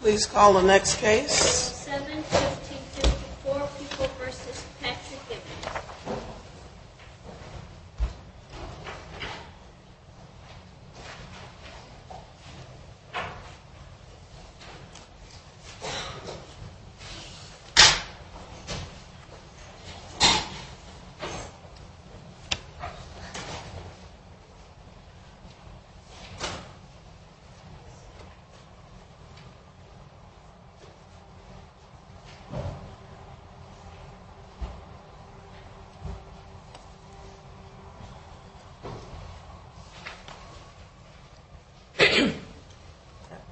Please call the next case.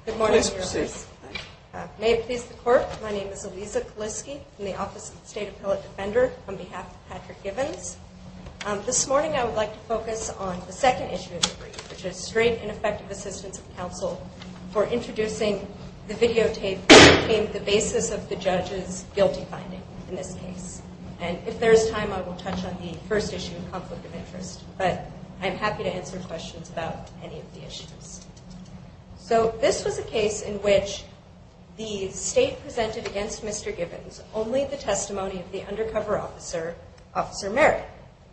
Good morning, Your Honors. May it please the Court, my name is Eliza Kaliske from the Office of the State Appellate Defender on behalf of Patrick Givens. This morning I would like to focus on the second issue of the brief, which is straight ineffective assistance of counsel for introducing the videotape that became the basis of the judge's guilty finding in this case. And if there is time I will touch on the first issue of conflict of interest, but I'm happy to answer questions about any of the issues. So this was a case in which the State presented against Mr. Givens only the testimony of the undercover officer, Officer Merritt,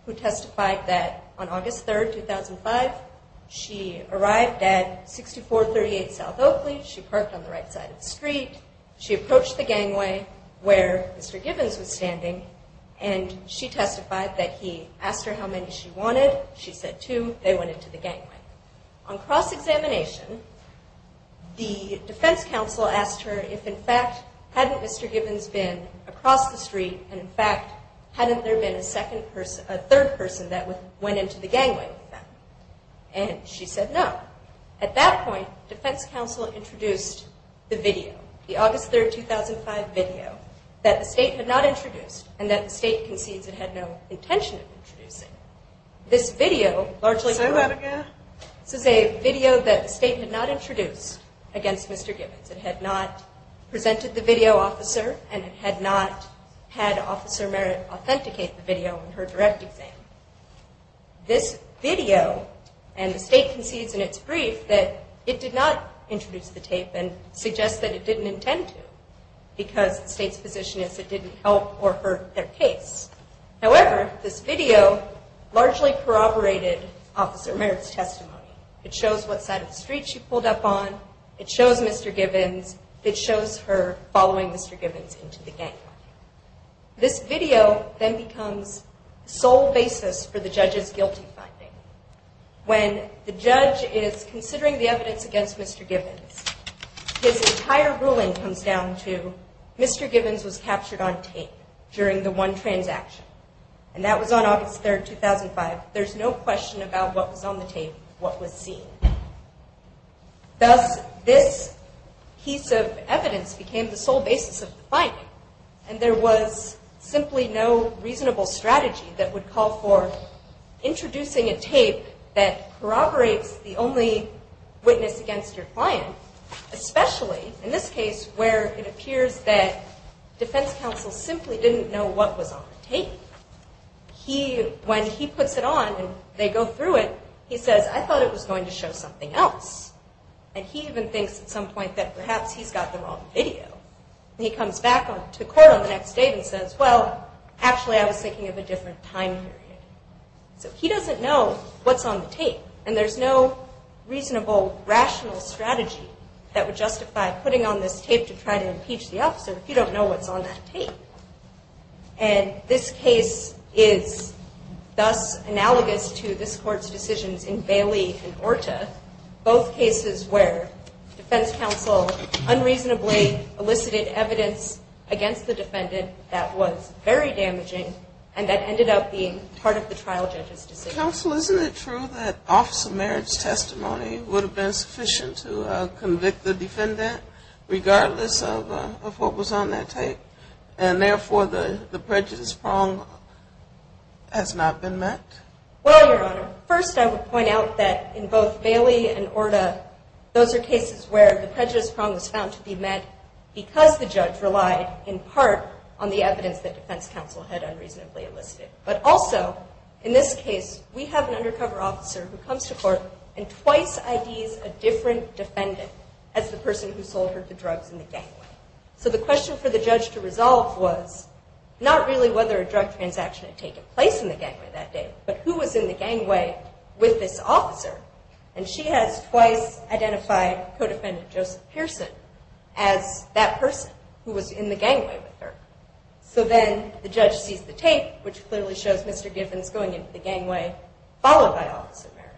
who testified that on August 3rd, 2005, she arrived at 6438 South Oakley. She parked on the right side of the street. She approached the gangway where Mr. Givens was standing and she testified that he asked her how many she wanted. She said two. They went into the gangway. On cross-examination, the defense counsel asked her if in fact hadn't Mr. Givens been across the street and in fact hadn't there been a third person that went into the gangway with them. And she said no. At that point, defense counsel introduced the video, the August 3rd, 2005 video, that the State had not introduced and that the State concedes it had no intention of introducing. This video, this is a video that the State had not introduced against Mr. Givens. It had not presented the video officer and it had not had Officer Merritt authenticate the video in her direct exam. This video, and the State concedes in its brief that it did not introduce the tape and suggests that it didn't intend to because the State's position is it didn't help or hurt their case. However, this video largely corroborated Officer Merritt's testimony. It shows what side of the street she pulled up on. It shows Mr. Givens. It shows her following Mr. Givens into the gangway. This video then becomes the sole basis for the judge's guilty finding. When the judge is considering the evidence against Mr. Givens, his entire ruling comes down to Mr. Givens was captured on tape during the one transaction and that was on August 3rd, 2005. There's no question about what was on the tape, what was seen. Thus, this piece of evidence became the sole basis of the finding and there was simply no reasonable strategy that would call for introducing a tape that corroborates the only witness against your client, especially in this case where it appears that defense counsel simply didn't know what was on the tape. When he puts it on and they go through it, he says, I thought it was going to show something else. And he even thinks at some point that perhaps he's got the wrong video. He comes back to court on the next day and says, well, actually I was thinking of a different time period. So he doesn't know what's on the tape and there's no reasonable, rational strategy that would justify putting on this tape to try to impeach the officer if you don't know what's on that tape. And this case is thus analogous to this court's decisions in Bailey and Orta. Both cases where defense counsel unreasonably elicited evidence against the defendant that was very damaging and that ended up being part of the trial judge's decision. Counsel, isn't it true that officer Merritt's testimony would have been sufficient to convict the defendant regardless of what was on that tape and therefore the prejudice prong has not been met? Well, Your Honor, first I would point out that in both Bailey and Orta, those are cases where the prejudice prong was found to be met because the judge relied in part on the evidence that defense counsel had unreasonably elicited. But also, in this case, we have an undercover officer who comes to court and twice IDs a different defendant as the person who sold her the drugs in the gangway. So the question for the judge to resolve was not really whether a drug transaction had taken place in the gangway that day, but who was in the gangway with this officer. And she has twice identified co-defendant Joseph Pearson as that person who was in the gangway with her. So then the judge sees the tape, which clearly shows Mr. Givens going into the gangway, followed by Officer Merritt.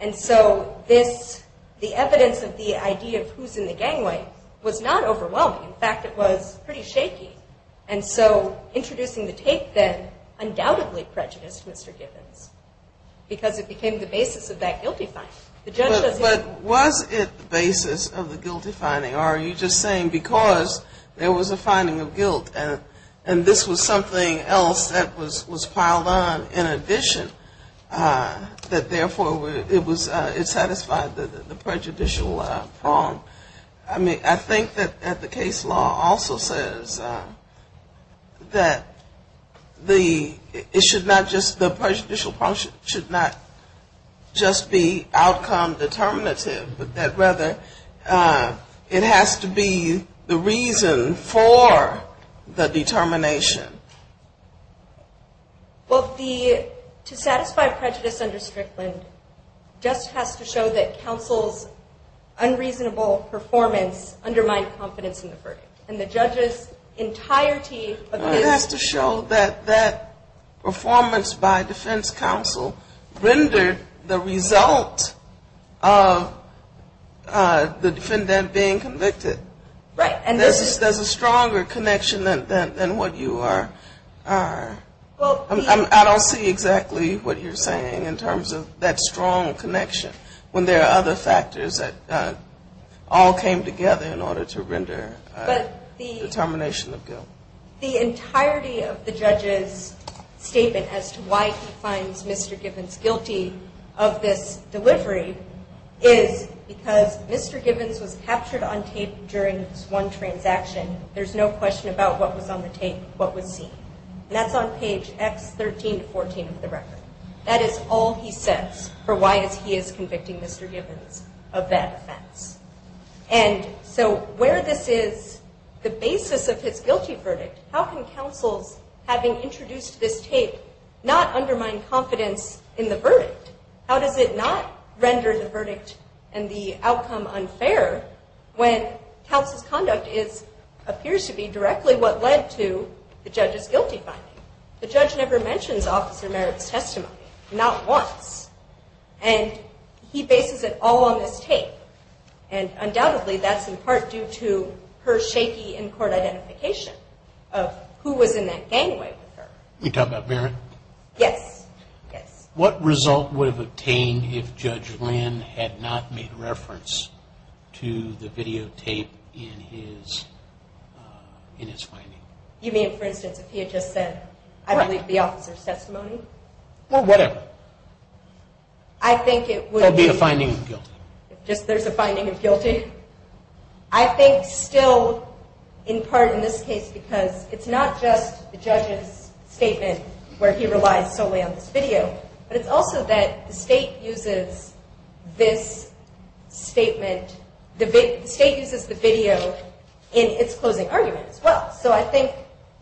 And so this, the evidence of the ID of who's in the gangway was not overwhelming. In fact, it was pretty shaky. And so introducing the tape then undoubtedly prejudiced Mr. Givens because it became the basis of that guilty finding. But was it the basis of the guilty finding? Or are you just saying because there was a finding of guilt and this was something else that was piled on in addition, that therefore it satisfied the prejudicial prong? I mean, I think that the case law also says that the, it should not just, the prejudicial prong should not just be outcome determinative, but that rather it has to be the reason for the determination. Well, the, to satisfy prejudice under Strickland just has to show that counsel's unreasonable performance undermined confidence in the verdict. And the judge's entirety of his. It has to show that that performance by defense counsel rendered the result of the defendant being convicted. Right. There's a stronger connection than what you are. I don't see exactly what you're saying in terms of that strong connection when there are other factors that all came together in order to render determination of guilt. But the entirety of the judge's statement as to why he finds Mr. Givens guilty of this delivery is because Mr. Givens was captured on tape during his one trial. During his one transaction, there's no question about what was on the tape, what was seen. And that's on page X13-14 of the record. That is all he says for why he is convicting Mr. Givens of that offense. And so where this is the basis of his guilty verdict, how can counsels, having introduced this tape, not undermine confidence in the verdict? How does it not render the verdict and the outcome unfair when counsel's conduct appears to be directly what led to the judge's guilty finding? The judge never mentions Officer Merritt's testimony, not once. And he bases it all on this tape. And undoubtedly, that's in part due to her shaky in-court identification of who was in that gangway with her. You're talking about Merritt? Yes. What result would have obtained if Judge Lynn had not made reference to the videotape in his finding? You mean, for instance, if he had just said, I believe the officer's testimony? Or whatever. I think it would be a finding of guilt. Just there's a finding of guilt here? I think still in part in this case because it's not just the judge's statement where he relies solely on this video. But it's also that the state uses this statement, the state uses the video in its closing argument as well. So I think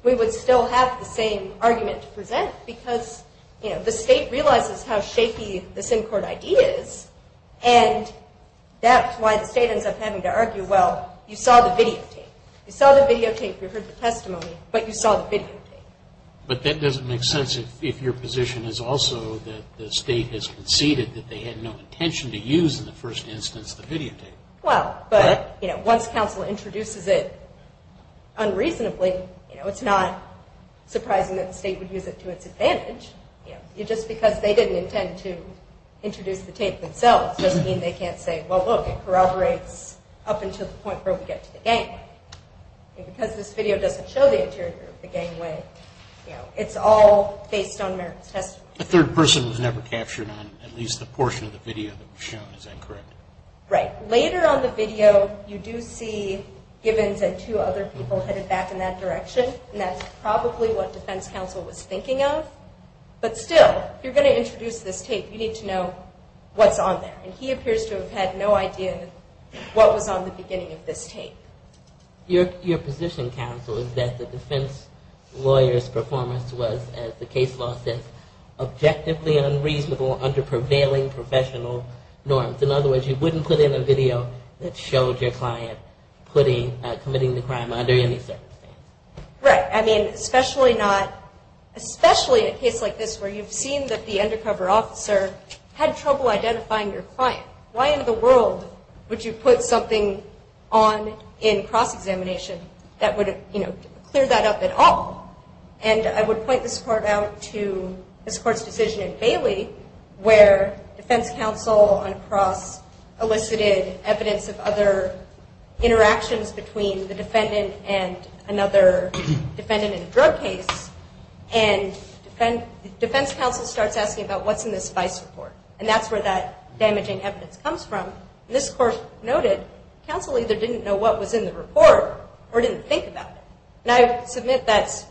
we would still have the same argument to present because the state realizes how shaky this in-court ID is. And that's why the state ends up having to argue, well, you saw the videotape. You saw the videotape, you heard the testimony, but you saw the videotape. But that doesn't make sense if your position is also that the state has conceded that they had no intention to use in the first instance the videotape. Well, but once counsel introduces it unreasonably, it's not surprising that the state would use it to its advantage. Just because they didn't intend to introduce the tape themselves doesn't mean they can't say, well, look, it corroborates up until the point where we get to the gang. Because this video doesn't show the interior of the gangway, it's all based on American's testimony. The third person was never captured on at least the portion of the video that was shown. Is that correct? Right. Later on the video, you do see Givens and two other people headed back in that direction. And that's probably what defense counsel was thinking of. But still, if you're going to introduce this tape, you need to know what's on there. And he appears to have had no idea what was on the beginning of this tape. Your position, counsel, is that the defense lawyer's performance was, as the case law says, objectively unreasonable under prevailing professional norms. In other words, you wouldn't put in a video that showed your client committing the crime under any circumstance. Right. I mean, especially a case like this where you've seen that the undercover officer had trouble identifying your client. Why in the world would you put something on in cross-examination that would clear that up at all? And I would point this part out to this court's decision in Bailey where defense counsel on cross-elicited evidence of other interactions between the defendant and another defendant in a drug case. And defense counsel starts asking about what's in this vice report. And that's where that damaging evidence comes from. And this court noted counsel either didn't know what was in the report or didn't think about it. And I submit that's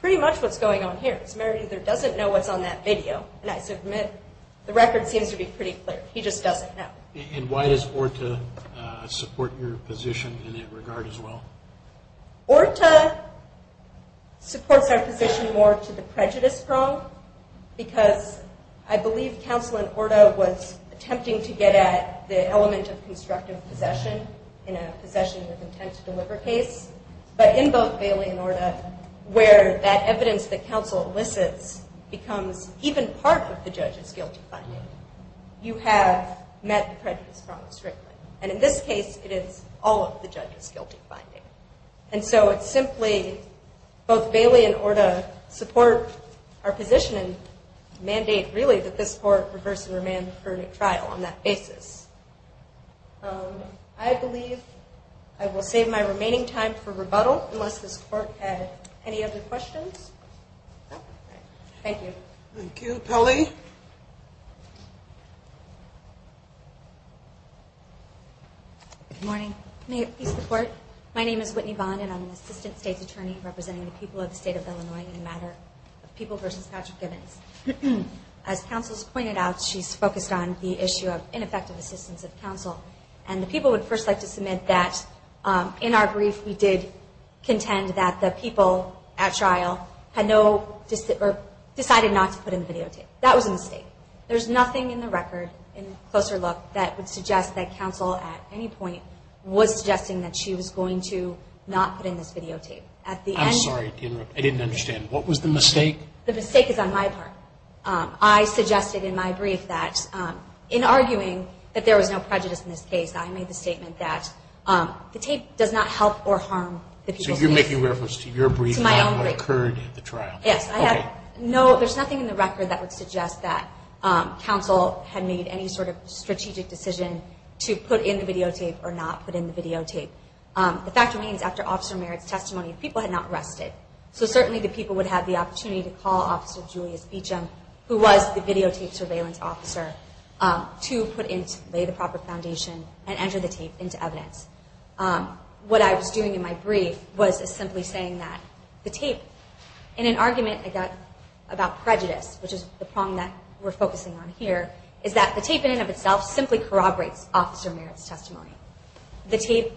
pretty much what's going on here. Samaritan either doesn't know what's on that video, and I submit the record seems to be pretty clear. He just doesn't know. And why does ORTA support your position in that regard as well? ORTA supports our position more to the prejudice prong because I believe counsel in ORTA was attempting to get at the element of constructive possession in a possession with intent to deliver case. But in both Bailey and ORTA where that evidence that counsel elicits becomes even part of the judge's guilty finding, you have met the prejudice prong strictly. And in this case, it is all of the judge's guilty finding. And so it's simply both Bailey and ORTA support our position and mandate really that this court reverse and remand for a new trial on that basis. I believe I will save my remaining time for rebuttal unless this court had any other questions. Thank you. Thank you. Polly. Good morning. May it please the court. My name is Whitney Bond, and I'm an assistant state's attorney representing the people of the state of Illinois in the matter of People v. Patrick Gibbons. As counsel has pointed out, she's focused on the issue of ineffective assistance of counsel. And the people would first like to submit that in our brief, we did contend that the people at trial had no or decided not to put in the videotape. That was a mistake. There's nothing in the record, in closer look, that would suggest that counsel at any point was suggesting that she was going to not put in this videotape. I'm sorry to interrupt. I didn't understand. What was the mistake? The mistake is on my part. I suggested in my brief that in arguing that there was no prejudice in this case, I made the statement that the tape does not help or harm the people. So you're making reference to your brief on what occurred at the trial? Yes. Okay. No, there's nothing in the record that would suggest that counsel had made any sort of strategic decision to put in the videotape or not put in the videotape. The fact remains, after Officer Merritt's testimony, people had not rested. So certainly the people would have the opportunity to call Officer Julius Beecham, who was the videotape surveillance officer, to lay the proper foundation and enter the tape into evidence. What I was doing in my brief was simply saying that the tape, in an argument I got about prejudice, which is the prong that we're focusing on here, is that the tape in and of itself simply corroborates Officer Merritt's testimony. The tape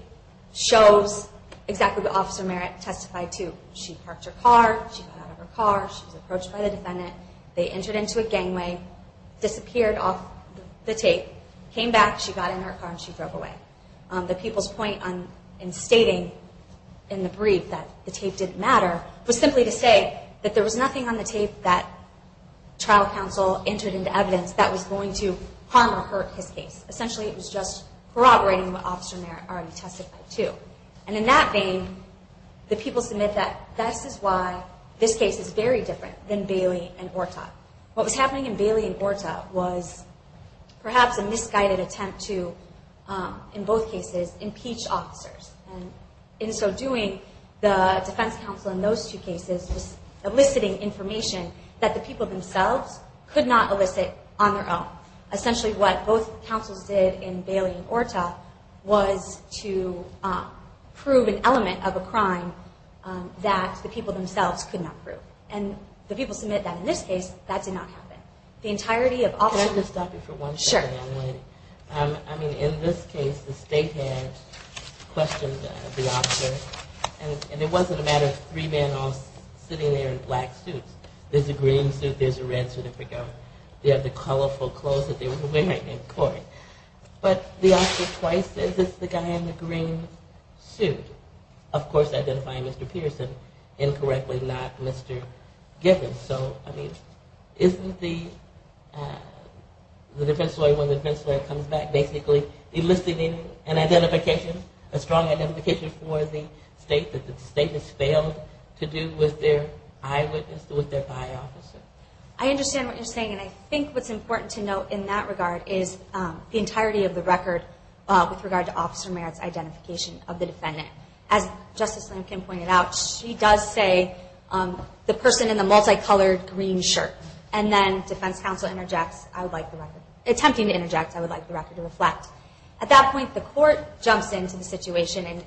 shows exactly what Officer Merritt testified to. She parked her car. She got out of her car. She was approached by the defendant. They entered into a gangway, disappeared off the tape, came back, she got in her car, and she drove away. The people's point in stating in the brief that the tape didn't matter was simply to say that there was nothing on the tape that trial counsel entered into evidence that was going to harm or hurt his case. Essentially it was just corroborating what Officer Merritt already testified to. And in that vein, the people submit that this is why this case is very different than Bailey and Orta. What was happening in Bailey and Orta was perhaps a misguided attempt to, in both cases, impeach officers. And in so doing, the defense counsel in those two cases was eliciting information that the people themselves could not elicit on their own. Essentially what both counsels did in Bailey and Orta was to prove an element of a crime that the people themselves could not prove. And the people submit that in this case, that did not happen. The entirety of officers... Can I just stop you for one second? Sure. I mean, in this case, the state had questioned the officer, and it wasn't a matter of three men all sitting there in black suits. There's a green suit. There's a red suit. They have the colorful clothes that they were wearing in court. But the officer twice says it's the guy in the green suit. Of course, identifying Mr. Peterson incorrectly, not Mr. Gibbons. So, I mean, isn't the defense lawyer, when the defense lawyer comes back, basically eliciting an identification, a strong identification for the state that the state has failed to do with their eyewitness, with their by officer? I understand what you're saying, and I think what's important to note in that regard is the entirety of the record with regard to Officer Merritt's identification of the defendant. As Justice Lincoln pointed out, she does say the person in the multicolored green shirt. And then defense counsel interjects, attempting to interject, I would like the record to reflect. At that point, the court jumps into the situation, and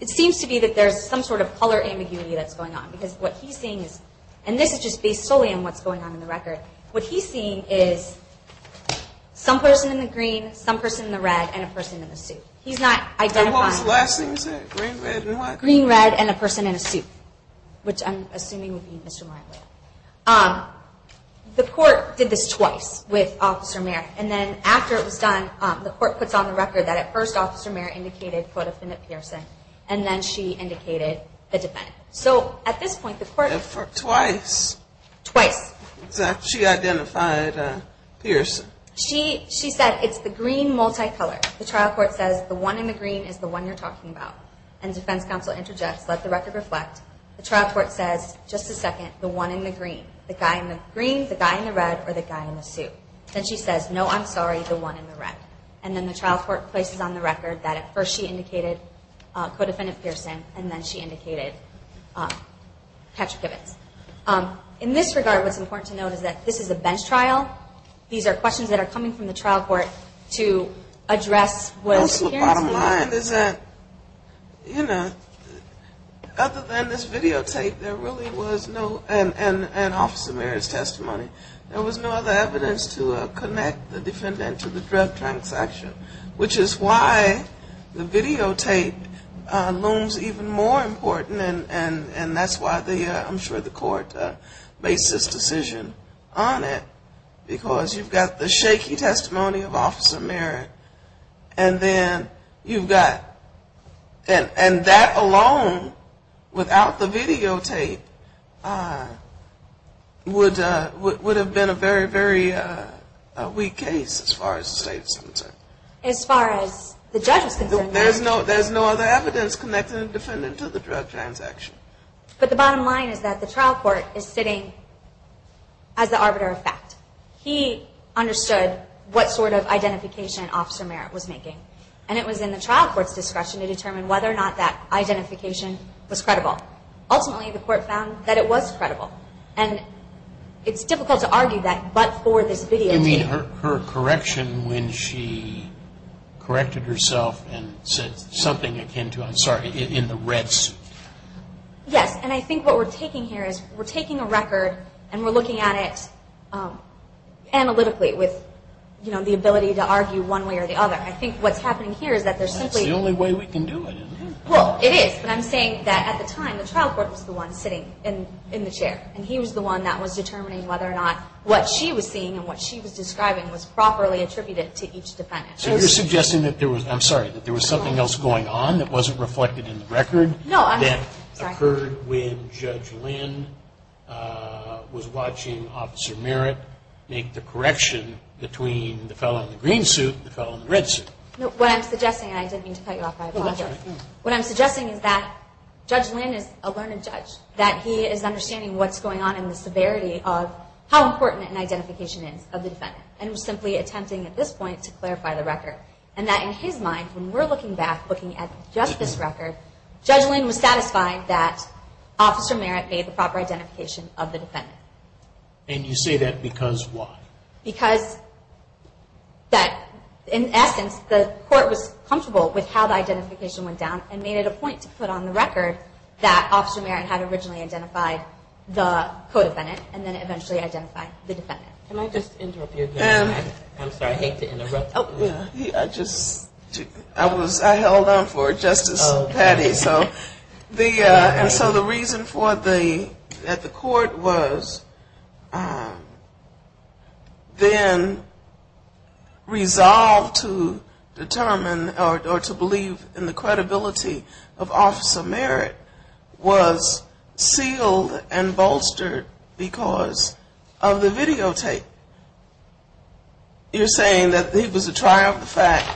it seems to be that there's some sort of color ambiguity that's going on. Because what he's seeing is, and this is just based solely on what's going on in the record, what he's seeing is some person in the green, some person in the red, and a person in the suit. He's not identifying. What was the last thing you said? Green, red, and what? Green, red, and a person in a suit, which I'm assuming would be Mr. Martin. The court did this twice with Officer Merritt. And then after it was done, the court puts on the record that at first Officer Merritt indicated, quote, So at this point, the court- Twice. Twice. She identified Pearson. She said, it's the green multicolor. The trial court says, the one in the green is the one you're talking about. And defense counsel interjects, let the record reflect. The trial court says, just a second, the one in the green. The guy in the green, the guy in the red, or the guy in the suit. Then she says, no, I'm sorry, the one in the red. And then the trial court places on the record that at first she indicated co-defendant Pearson, and then she indicated Patrick Gibbons. In this regard, what's important to note is that this is a bench trial. These are questions that are coming from the trial court to address whether she- The bottom line is that, you know, other than this videotape, there really was no- And Officer Merritt's testimony. There was no other evidence to connect the defendant to the drug transaction, which is why the videotape looms even more important, and that's why I'm sure the court makes this decision on it. Because you've got the shaky testimony of Officer Merritt, and then you've got- And that alone, without the videotape, would have been a very, very weak case as far as the state is concerned. As far as the judge was concerned. There's no other evidence connecting the defendant to the drug transaction. But the bottom line is that the trial court is sitting as the arbiter of fact. He understood what sort of identification Officer Merritt was making, and it was in the trial court's discretion to determine whether or not that identification was credible. Ultimately, the court found that it was credible. And it's difficult to argue that but for this videotape. You mean her correction when she corrected herself and said something akin to- I'm sorry, in the red suit. Yes, and I think what we're taking here is we're taking a record, and we're looking at it analytically with, you know, the ability to argue one way or the other. I think what's happening here is that there's simply- That's the only way we can do it, isn't it? Well, it is. But I'm saying that at the time, the trial court was the one sitting in the chair. And he was the one that was determining whether or not what she was seeing and what she was describing was properly attributed to each defendant. So you're suggesting that there was-I'm sorry-that there was something else going on that wasn't reflected in the record- No, I'm- No, what I'm suggesting-and I didn't mean to cut you off by applause here. What I'm suggesting is that Judge Lynn is a learned judge, that he is understanding what's going on in the severity of how important an identification is of the defendant, and was simply attempting at this point to clarify the record. And that in his mind, when we're looking back, looking at just this record, Judge Lynn was satisfied that Officer Merritt made the proper identification of the defendant. And you say that because why? Because that-in essence, the court was comfortable with how the identification went down and made it a point to put on the record that Officer Merritt had originally identified the co-defendant and then eventually identified the defendant. Can I just interrupt you again? I'm sorry, I hate to interrupt. Oh, yeah. I just-I was-I held on for Justice Patty. Okay, so the-and so the reason for the-that the court was then resolved to determine or to believe in the credibility of Officer Merritt was sealed and bolstered because of the videotape. You're saying that he was a try of the fact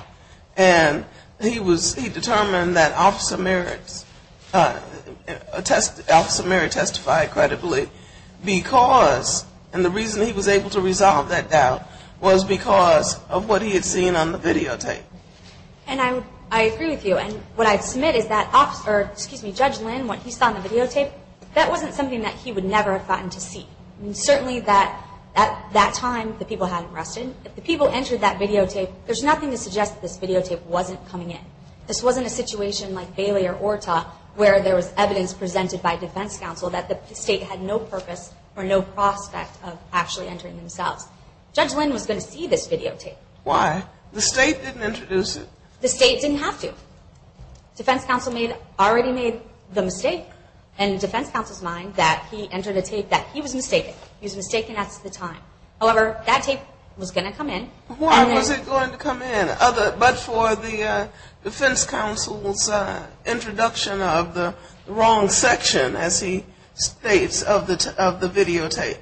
and he was-he determined that Officer Merritt testified credibly because-and the reason he was able to resolve that doubt was because of what he had seen on the videotape. And I would-I agree with you. And what I'd submit is that Officer-excuse me, Judge Lynn, what he saw on the videotape, that wasn't something that he would never have gotten to see. Certainly that-at that time, the people hadn't rested. If the people entered that videotape, there's nothing to suggest that this videotape wasn't coming in. This wasn't a situation like Bailey or Orta where there was evidence presented by defense counsel that the state had no purpose or no prospect of actually entering themselves. Judge Lynn was going to see this videotape. Why? The state didn't introduce it. The state didn't have to. Defense counsel made-already made the mistake in defense counsel's mind that he entered a tape that he was mistaken. He was mistaken at the time. However, that tape was going to come in. Why was it going to come in? But for the defense counsel's introduction of the wrong section, as he states, of the videotape.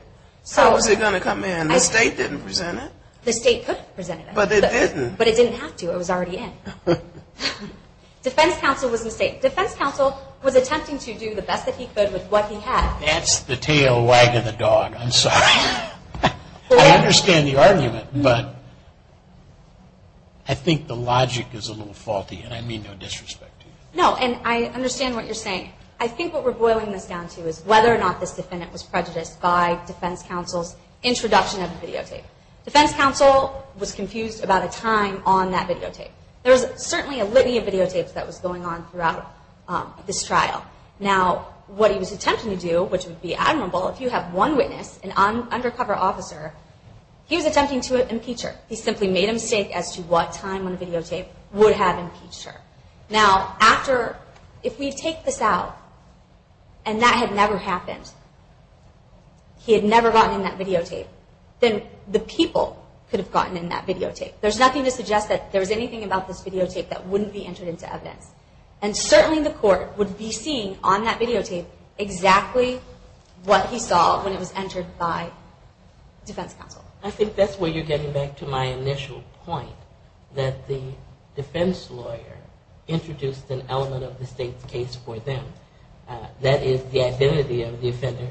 How was it going to come in? The state didn't present it. The state couldn't present it. But it didn't. But it didn't have to. It was already in. Defense counsel was mistaken. Defense counsel was attempting to do the best that he could with what he had. That's the tail wagging the dog. I'm sorry. I understand the argument, but I think the logic is a little faulty, and I mean no disrespect to you. No, and I understand what you're saying. I think what we're boiling this down to is whether or not this defendant was prejudiced by defense counsel's introduction of the videotape. Defense counsel was confused about a time on that videotape. There was certainly a litany of videotapes that was going on throughout this trial. Now, what he was attempting to do, which would be admirable if you have one witness, an undercover officer, he was attempting to impeach her. He simply made a mistake as to what time on the videotape would have impeached her. Now, if we take this out and that had never happened, he had never gotten in that videotape, then the people could have gotten in that videotape. There's nothing to suggest that there was anything about this videotape that wouldn't be entered into evidence. And certainly the court would be seeing on that videotape exactly what he saw when it was entered by defense counsel. I think that's where you're getting back to my initial point, that the defense lawyer introduced an element of the state's case for them, that is the identity of the offender.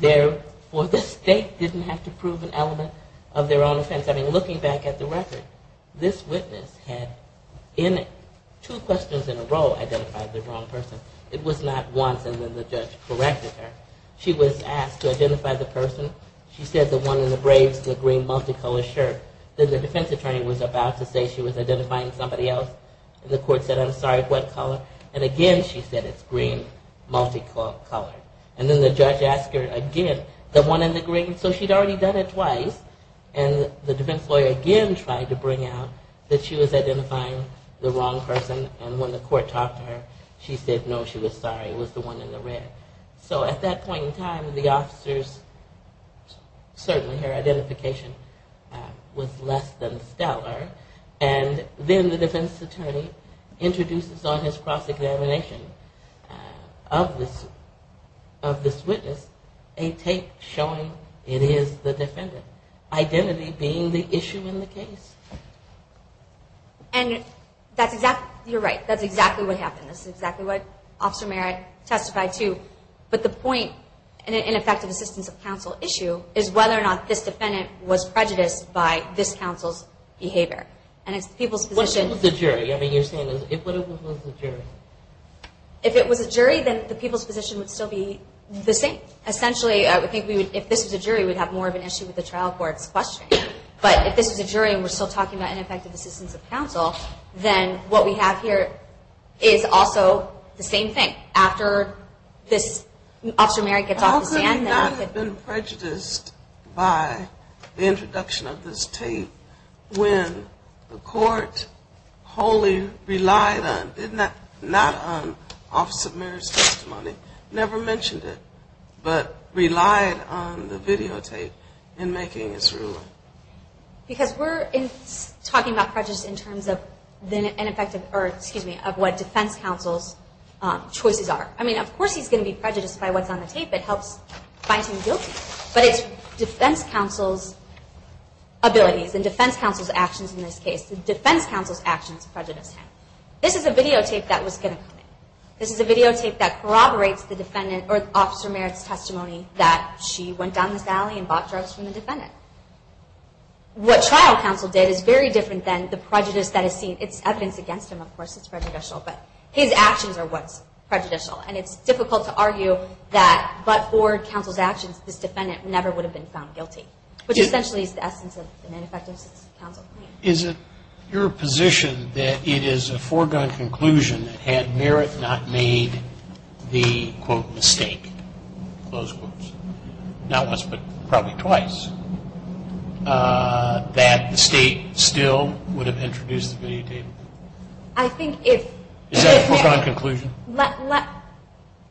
Therefore, the state didn't have to prove an element of their own offense. I mean, looking back at the record, this witness had in two questions in a row identified the wrong person. It was not once and then the judge corrected her. She was asked to identify the person. She said the one in the brave, the green, multicolored shirt. Then the defense attorney was about to say she was identifying somebody else. And the court said, I'm sorry, what color? And again, she said, it's green, multicolored. And then the judge asked her again, the one in the green. So she'd already done it twice. And the defense lawyer again tried to bring out that she was identifying the wrong person. And when the court talked to her, she said, no, she was sorry, it was the one in the red. So at that point in time, the officer's, certainly her identification was less than stellar. And then the defense attorney introduces on his cross-examination of this witness a tape showing it is the defendant. Identity being the issue in the case. And that's exactly, you're right, that's exactly what happened. That's exactly what Officer Merritt testified to. But the point in an ineffective assistance of counsel issue is whether or not this defendant was prejudiced by this counsel's behavior. And it's the people's position. What if it was a jury? I mean, you're saying, what if it was a jury? If it was a jury, then the people's position would still be the same. Essentially, I would think if this was a jury, we'd have more of an issue with the trial court's question. But if this was a jury and we're still talking about ineffective assistance of counsel, then what we have here is also the same thing. After this, Officer Merritt gets off the stand. How could we not have been prejudiced by the introduction of this tape when the court wholly relied on, not on Officer Merritt's testimony, never mentioned it, but relied on the videotape in making its ruling? Because we're talking about prejudice in terms of what defense counsel's choices are. I mean, of course he's going to be prejudiced by what's on the tape. It helps find him guilty. But it's defense counsel's abilities and defense counsel's actions in this case. The defense counsel's actions prejudice him. This is a videotape that was going to come in. This is a videotape that corroborates the defendant or Officer Merritt's testimony that she went down this alley and bought drugs from the defendant. What trial counsel did is very different than the prejudice that is seen. It's evidence against him, of course. It's prejudicial. But his actions are what's prejudicial. And it's difficult to argue that but for counsel's actions, this defendant never would have been found guilty, which essentially is the essence of an ineffective assistance of counsel. Is it your position that it is a foregone conclusion that had Merritt not made the, quote, mistake, close quotes, not once but probably twice, that the state still would have introduced the videotape? I think if... Is that a foregone conclusion?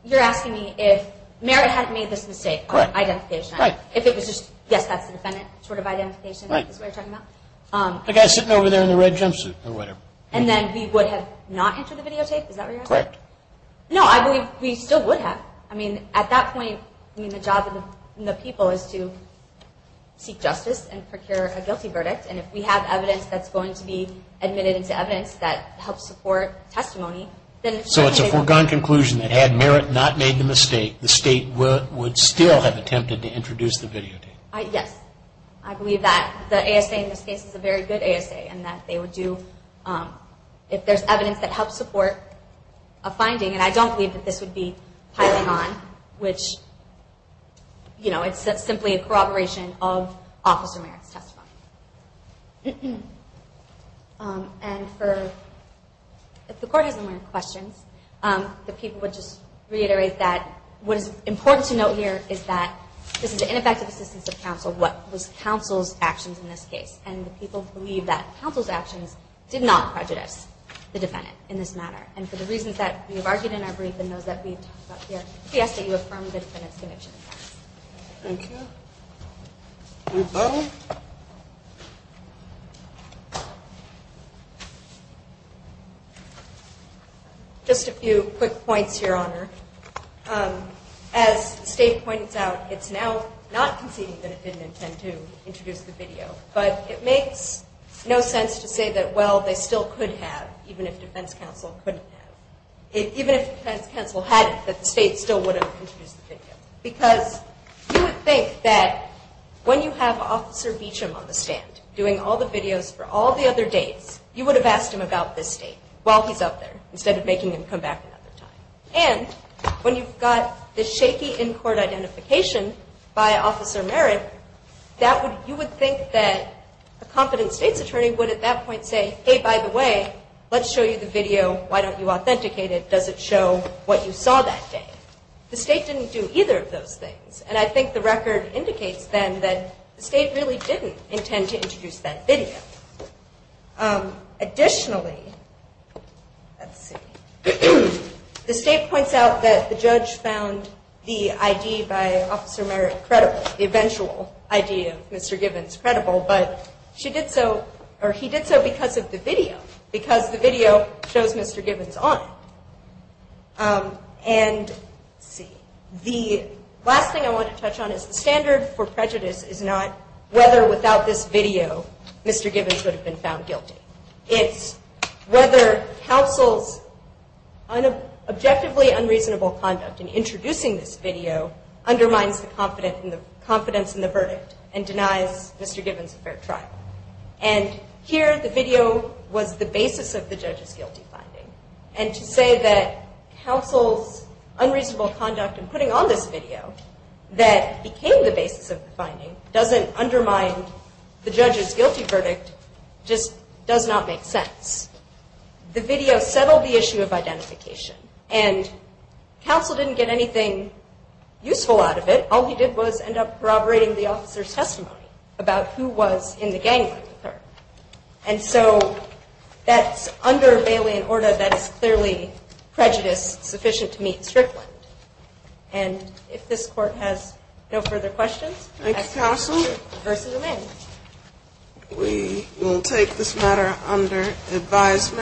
You're asking me if Merritt had made this mistake of identification. Correct. If it was just, yes, that's the defendant, sort of identification is what you're talking about. The guy sitting over there in the red jumpsuit or whatever. And then he would have not entered the videotape? Is that what you're asking? Correct. No, I believe he still would have. I mean, at that point, I mean, the job of the people is to seek justice and procure a guilty verdict. And if we have evidence that's going to be admitted into evidence that helps support testimony, then... So it's a foregone conclusion that had Merritt not made the mistake, the state would still have attempted to introduce the videotape? Yes. I believe that the ASA in this case is a very good ASA and that they would do, if there's evidence that helps support a finding, and I don't believe that this would be piling on, which, you know, it's simply a corroboration of Officer Merritt's testimony. And if the Court has any more questions, the people would just reiterate that what is important to note here is that this is an ineffective assistance of counsel. What was counsel's actions in this case? And the people believe that counsel's actions did not prejudice the defendant in this matter. And for the reasons that we have argued in our brief and those that we've talked about here, we ask that you affirm the defendant's conviction. Thank you. Ms. Butler? Just a few quick points, Your Honor. As the state points out, it's now not conceding that the defendant had to introduce the video, but it makes no sense to say that, well, they still could have, even if defense counsel couldn't have. Even if defense counsel had it, that the state still would have introduced the video. Because you would think that when you have Officer Beecham on the stand, doing all the videos for all the other dates, you would have asked him about this state while he's up there, instead of making him come back another time. And when you've got the shaky in-court identification by Officer Merritt, you would think that a competent state's attorney would at that point say, hey, by the way, let's show you the video. Why don't you authenticate it? Does it show what you saw that day? The state didn't do either of those things, and I think the record indicates then that the state really didn't intend to introduce that video. Additionally, the state points out that the judge found the ID by Officer Merritt credible, the eventual ID of Mr. Gibbons credible, but he did so because of the video, because the video shows Mr. Gibbons on it. And let's see. The last thing I want to touch on is the standard for prejudice is not whether without this video, Mr. Gibbons would have been found guilty. It's whether counsel's objectively unreasonable conduct in introducing this video undermines the confidence in the verdict and denies Mr. Gibbons a fair trial. And here, the video was the basis of the judge's guilty finding. And to say that counsel's unreasonable conduct in putting on this video that became the basis of the finding doesn't undermine the judge's guilty verdict just does not make sense. The video settled the issue of identification, and counsel didn't get anything useful out of it. All he did was end up corroborating the officer's testimony about who was in the gang with her. And so that's under Bailey and Orda, that is clearly prejudice sufficient to meet Strickland. And if this Court has no further questions, I ask you to do so. Thank you, counsel. The verse is amended. We will take this matter under advisement.